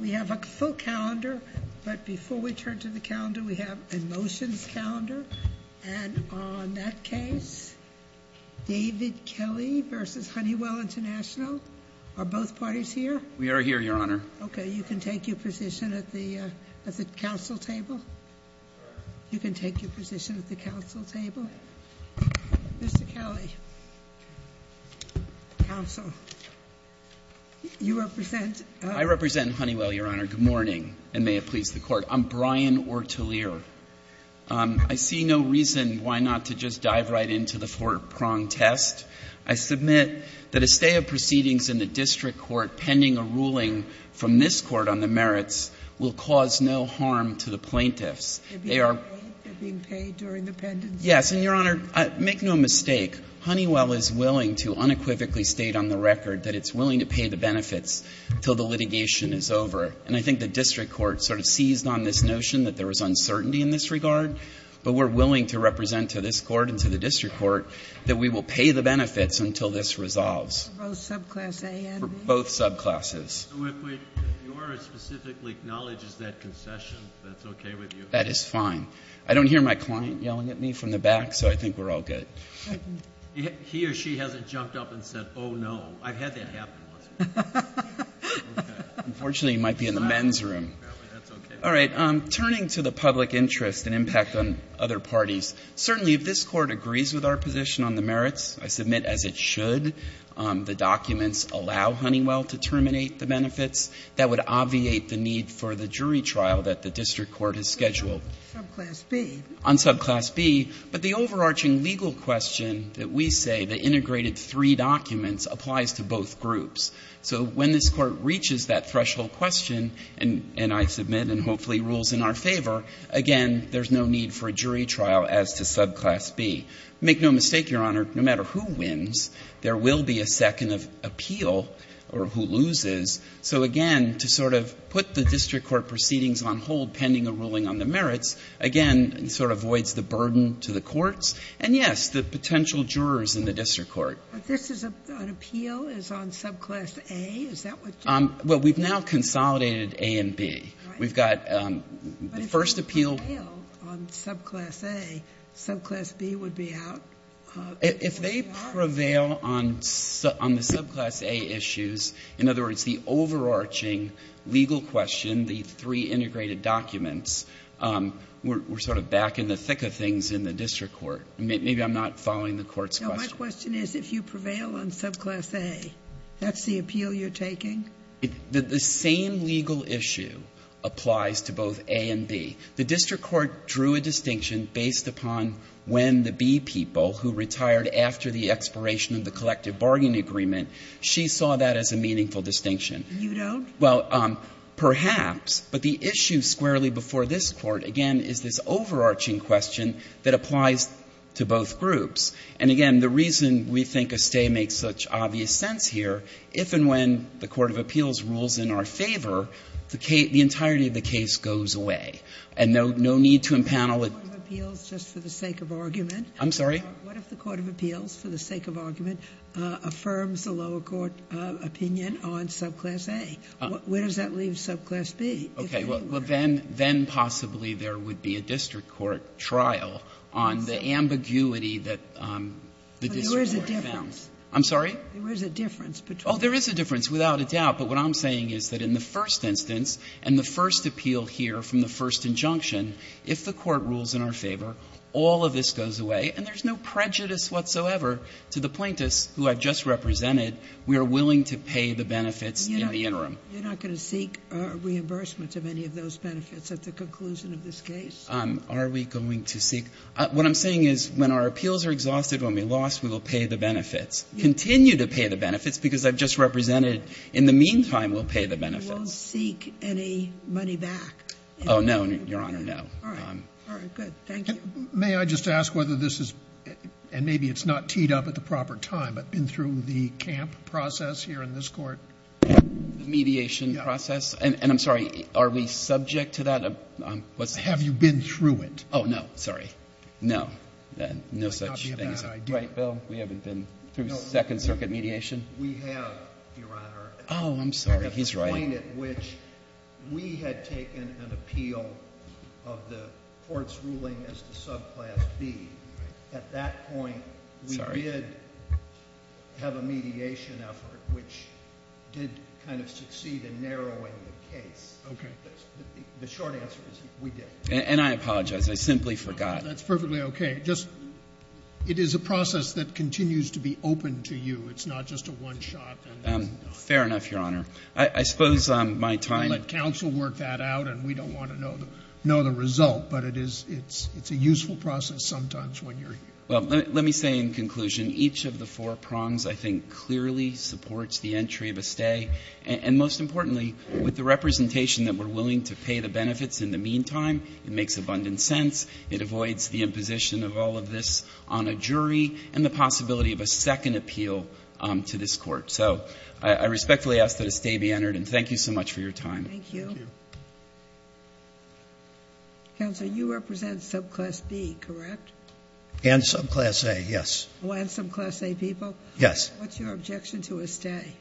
We have a full calendar, but before we turn to the calendar, we have a motions calendar. And on that case, David Kelly versus Honeywell International, are both parties here? We are here, Your Honor. Okay, you can take your position at the council table. You can take your position at the council table. Mr. Kelly, counsel, you represent — I represent Honeywell, Your Honor. Good morning, and may it please the Court. I'm Brian Ortelier. I see no reason why not to just dive right into the four-prong test. I submit that a stay of proceedings in the district court pending a ruling from this Court on the merits will cause no harm to the plaintiffs. They are — They're being paid? They're being paid during the pendency? Yes. And, Your Honor, make no mistake. Honeywell is willing to unequivocally state on the record that it's willing to pay the benefits until the litigation is over. And I think the district court sort of seized on this notion that there was uncertainty in this regard, but we're willing to represent to this Court and to the district court that we will pay the benefits until this resolves. For both subclass A and B? For both subclasses. So if we — if your specifically acknowledges that concession, that's okay with you? That is fine. I don't hear my client yelling at me from the back, so I think we're all good. He or she hasn't jumped up and said, oh, no. I've had that happen once before. Okay. Unfortunately, he might be in the men's room. That's okay. All right. Turning to the public interest and impact on other parties, certainly if this Court agrees with our position on the merits, I submit, as it should, the documents allow Honeywell to terminate the benefits. That would obviate the need for the jury trial that the district court has scheduled. Subclass B? On subclass B. But the overarching legal question that we say, the integrated three documents, applies to both groups. So when this Court reaches that threshold question, and I submit, and hopefully rules in our favor, again, there's no need for a jury trial as to subclass B. Make no mistake, Your Honor, no matter who wins, there will be a second of appeal or who loses. So, again, to sort of put the district court proceedings on hold pending a ruling on the merits, again, sort of voids the burden to the courts. And, yes, the potential jurors in the district court. But this is an appeal on subclass A? Is that what you're saying? Well, we've now consolidated A and B. Right. We've got the first appeal. But if they prevail on subclass A, subclass B would be out? If they prevail on the subclass A issues, in other words, the overarching legal question, the three integrated documents, we're sort of back in the thick of things in the district court. Maybe I'm not following the Court's question. No. My question is if you prevail on subclass A, that's the appeal you're taking? The same legal issue applies to both A and B. The district court drew a distinction based upon when the B people who retired after the expiration of the collective bargaining agreement, she saw that as a meaningful distinction. And you don't? Well, perhaps. But the issue squarely before this court, again, is this overarching question that applies to both groups. And, again, the reason we think a stay makes such obvious sense here, if and when the court of appeals rules in our favor, the entirety of the case goes away. And no need to impanel it. The court of appeals, just for the sake of argument. I'm sorry? What if the court of appeals, for the sake of argument, affirms the lower court opinion on subclass A? Where does that leave subclass B? Okay. Well, then possibly there would be a district court trial on the ambiguity that the district court found. But there is a difference. I'm sorry? There is a difference. Oh, there is a difference, without a doubt. But what I'm saying is that in the first instance and the first appeal here from the first injunction, if the court rules in our favor, all of this goes away and there's no prejudice whatsoever to the plaintiffs who I've just represented. We are willing to pay the benefits in the interim. You're not going to seek reimbursement of any of those benefits at the conclusion of this case? Are we going to seek? What I'm saying is when our appeals are exhausted, when we lost, we will pay the benefits. Continue to pay the benefits because I've just represented. In the meantime, we'll pay the benefits. You won't seek any money back? Oh, no, Your Honor, no. All right. Good. Thank you. May I just ask whether this is, and maybe it's not teed up at the proper time, but been through the camp process here in this court? Mediation process? And I'm sorry, are we subject to that? Have you been through it? Oh, no. Sorry. No. No such thing. Right, Bill? We haven't been through Second Circuit mediation? No. We have, Your Honor. Oh, I'm sorry. He's right. At the point at which we had taken an appeal of the court's ruling as to subclass B, at that point we did have a mediation effort which did kind of succeed in narrowing the case. Okay. The short answer is we did. And I apologize. I simply forgot. That's perfectly okay. It is a process that continues to be open to you. It's not just a one-shot. Fair enough, Your Honor. I suppose my time at counsel worked that out, and we don't want to know the result. But it's a useful process sometimes when you're here. Well, let me say in conclusion, each of the four prongs I think clearly supports the entry of a stay. And most importantly, with the representation that we're willing to pay the benefits in the meantime, it makes abundant sense. It avoids the imposition of all of this on a jury and the possibility of a second appeal to this Court. So I respectfully ask that a stay be entered, and thank you so much for your time. Thank you. Thank you. Counsel, you represent subclass B, correct? And subclass A, yes. Oh, and subclass A people? Yes. What's your objection to a stay?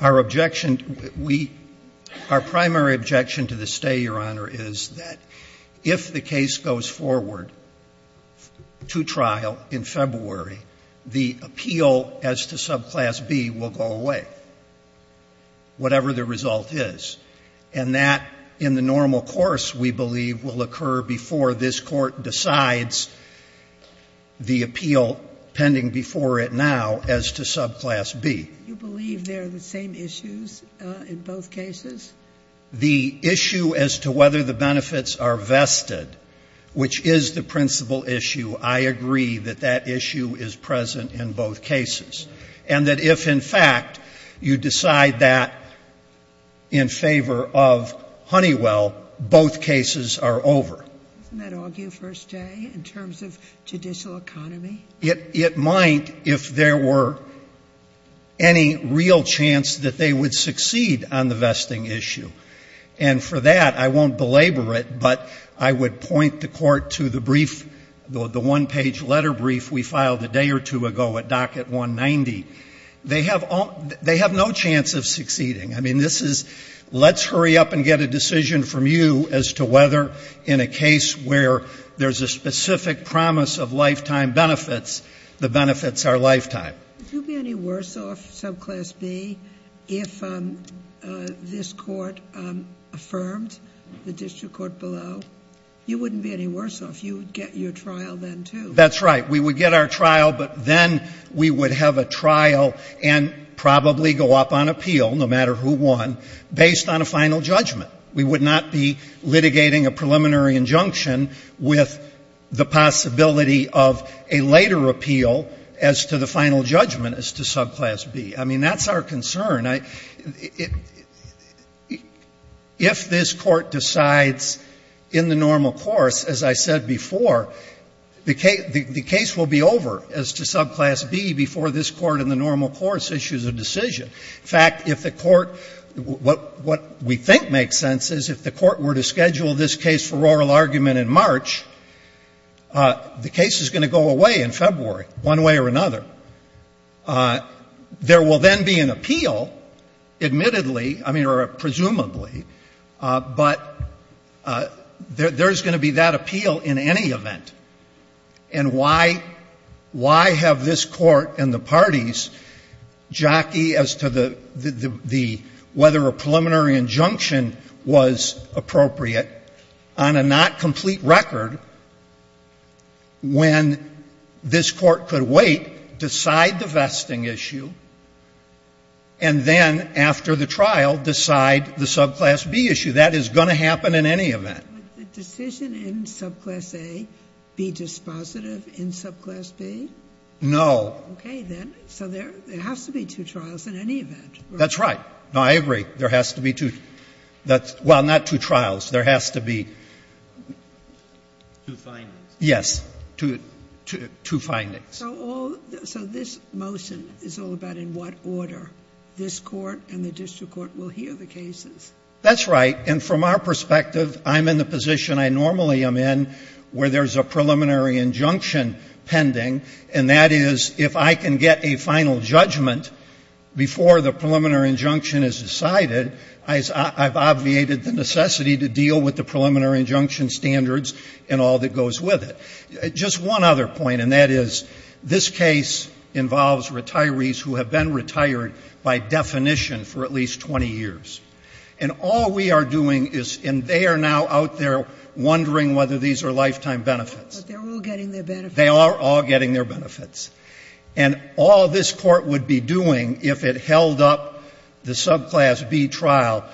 Our objection, we — our primary objection to the stay, Your Honor, is that if the case goes forward to trial in February, the appeal as to subclass B will go away, whatever the result is. And that in the normal course, we believe, will occur before this Court decides the appeal pending before it now as to subclass B. Do you believe they're the same issues in both cases? The issue as to whether the benefits are vested, which is the principal issue, I agree that that issue is present in both cases. And that if, in fact, you decide that in favor of Honeywell, both cases are over. Doesn't that argue for a stay in terms of judicial economy? It might if there were any real chance that they would succeed on the vesting issue. And for that, I won't belabor it, but I would point the Court to the brief, the one-page letter brief we filed a day or two ago at Docket 190. They have no chance of succeeding. I mean, this is let's hurry up and get a decision from you as to whether in a case where there's a specific promise of lifetime benefits, the benefits are lifetime. Would you be any worse off, subclass B, if this Court affirmed, the district court below? You wouldn't be any worse off. You would get your trial then, too. That's right. We would get our trial, but then we would have a trial and probably go up on appeal, no matter who won, based on a final judgment. We would not be litigating a preliminary injunction with the possibility of a later appeal as to the final judgment as to subclass B. I mean, that's our concern. If this Court decides in the normal course, as I said before, the case will be over as to subclass B before this Court in the normal course issues a decision. In fact, if the Court, what we think makes sense is if the Court were to schedule this case for oral argument in March, the case is going to go away in February one way or another. There will then be an appeal, admittedly, I mean, or presumably, but there's going to be that appeal in any event. And why have this Court and the parties jockey as to whether a preliminary injunction was appropriate on a not complete record when this Court could wait, decide the vesting issue, and then after the trial decide the subclass B issue? That is going to happen in any event. Sotomayor, would the decision in subclass A be dispositive in subclass B? No. Okay, then. So there has to be two trials in any event. That's right. No, I agree. There has to be two. Well, not two trials. There has to be two findings. Yes. Two findings. So this motion is all about in what order this Court and the district court will hear the cases. That's right. And from our perspective, I'm in the position I normally am in where there's a preliminary injunction pending, and that is if I can get a final judgment before the preliminary injunction is decided, I've obviated the necessity to deal with the preliminary injunction standards and all that goes with it. Just one other point, and that is this case involves retirees who have been retired by definition for at least 20 years. And all we are doing is, and they are now out there wondering whether these are lifetime benefits. But they're all getting their benefits. They are all getting their benefits. And all this Court would be doing if it held up the subclass B trial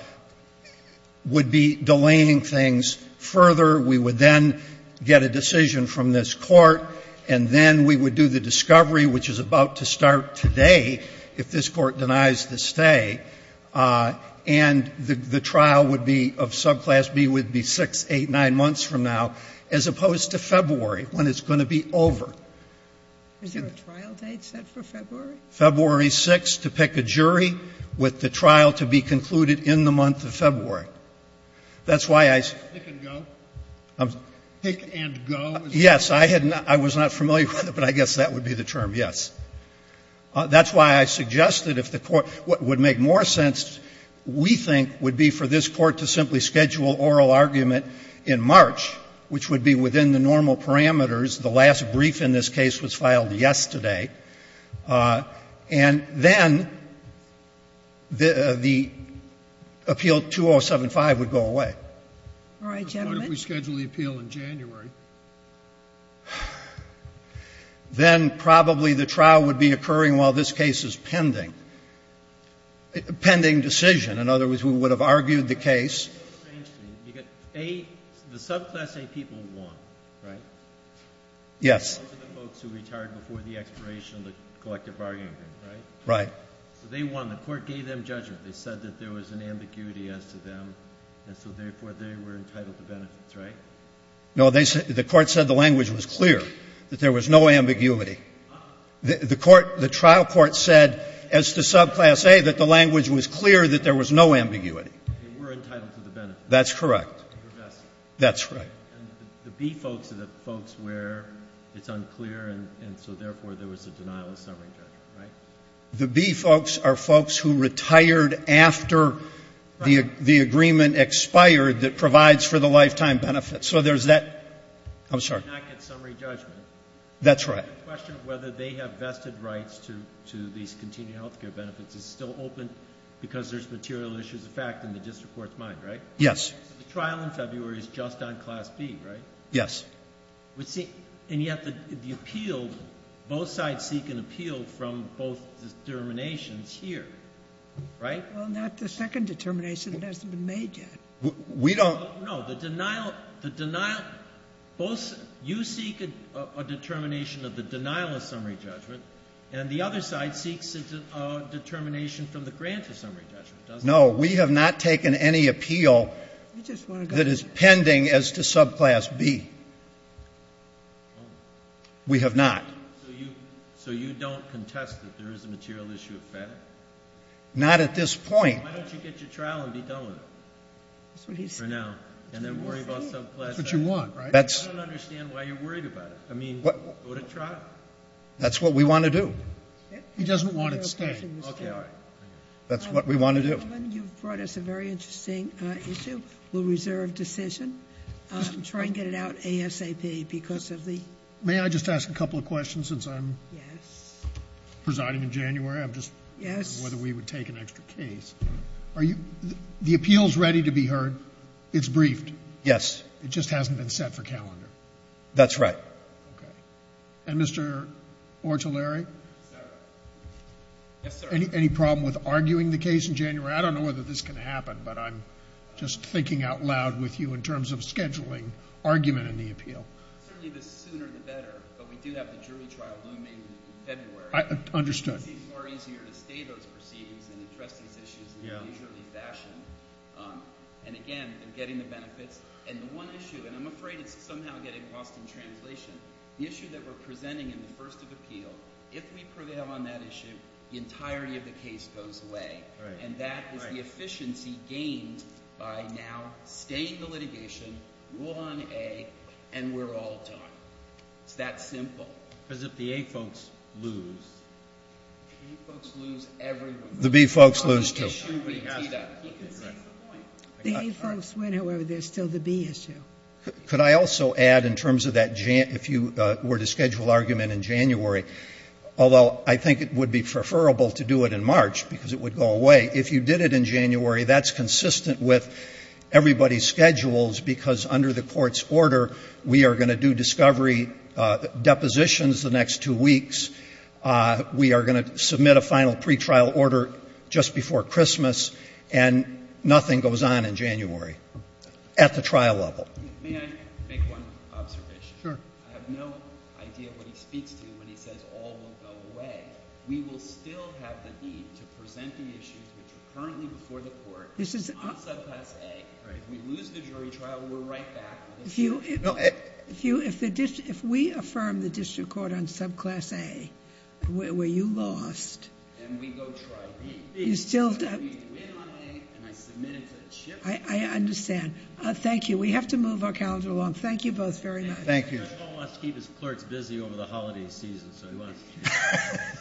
would be delaying things further. We would then get a decision from this Court, and then we would do the discovery, which is about to start today if this Court denies the stay. And the trial would be of subclass B would be 6, 8, 9 months from now, as opposed to February, when it's going to be over. Is there a trial date set for February? February 6th to pick a jury with the trial to be concluded in the month of February. That's why I said go. Pick and go? Yes. I was not familiar with it, but I guess that would be the term, yes. That's why I suggested if the Court would make more sense, we think would be for this Court to simply schedule oral argument in March, which would be within the normal parameters. The last brief in this case was filed yesterday. And then the appeal 2075 would go away. All right, gentlemen. I wonder if we schedule the appeal in January. Then probably the trial would be occurring while this case is pending. A pending decision. In other words, we would have argued the case. The subclass A people won, right? Yes. Those are the folks who retired before the expiration of the collective bargaining agreement, right? Right. So they won. The Court gave them judgment. They said that there was an ambiguity as to them, and so therefore they were entitled to the benefits, right? No, the Court said the language was clear, that there was no ambiguity. The trial court said as to subclass A that the language was clear, that there was no ambiguity. They were entitled to the benefits. That's correct. That's right. And the B folks are the folks where it's unclear, and so therefore there was a denial of sovereign judgment, right? The B folks are folks who retired after the agreement expired that provides for the lifetime benefits. So there's that. I'm sorry. They did not get summary judgment. That's right. The question of whether they have vested rights to these continued health care benefits is still open because there's material issues of fact in the district court's mind, right? Yes. So the trial in February is just on class B, right? Yes. And yet the appeal, both sides seek an appeal from both determinations here, right? Well, not the second determination that hasn't been made yet. We don't. Well, no. The denial, both you seek a determination of the denial of summary judgment, and the other side seeks a determination from the grant of summary judgment, doesn't it? No. We have not taken any appeal that is pending as to subclass B. We have not. So you don't contest that there is a material issue of fact? Not at this point. Why don't you get your trial and be done with it for now and then worry about subclass A? That's what you want, right? I don't understand why you're worried about it. I mean, go to trial. That's what we want to do. He doesn't want it to stay. Okay, all right. That's what we want to do. Gentlemen, you've brought us a very interesting issue. We'll reserve decision. Try and get it out ASAP because of the... May I just ask a couple of questions since I'm presiding in January? Yes. Whether we would take an extra case. The appeal is ready to be heard. It's briefed? Yes. It just hasn't been set for calendar? That's right. Okay. And Mr. Ortulari? Yes, sir. Any problem with arguing the case in January? I don't know whether this can happen, but I'm just thinking out loud with you in terms of scheduling argument in the appeal. Certainly the sooner the better, but we do have the jury trial looming in February. Understood. It seems more easier to stay those proceedings and address these issues in a leisurely fashion. And, again, getting the benefits. And the one issue, and I'm afraid it's somehow getting lost in translation, the issue that we're presenting in the first of appeal, if we prevail on that issue, the entirety of the case goes away. Right. And that is the efficiency gained by now staying the litigation, rule on A, and we're all done. It's that simple. Because if the A folks lose, A folks lose every one. The B folks lose, too. The A folks win, however, there's still the B issue. Could I also add in terms of that, if you were to schedule argument in January, although I think it would be preferable to do it in March because it would go away, if you did it in January, that's consistent with everybody's schedules because under the court's order, we are going to do discovery depositions the next two weeks, we are going to submit a final pretrial order just before Christmas, and nothing goes on in January at the trial level. May I make one observation? Sure. I have no idea what he speaks to when he says all will go away. We will still have the need to present the issues which are currently before the court on subclass A. Right. If we lose the jury trial, we're right back. If we affirm the district court on subclass A, where you lost. And we go try B. You still. We win on A, and I submit it to the chief. I understand. Thank you. We have to move our calendar along. Thank you both very much. Thank you. The judge wants to keep his clerks busy over the holiday season, so he wants to do that.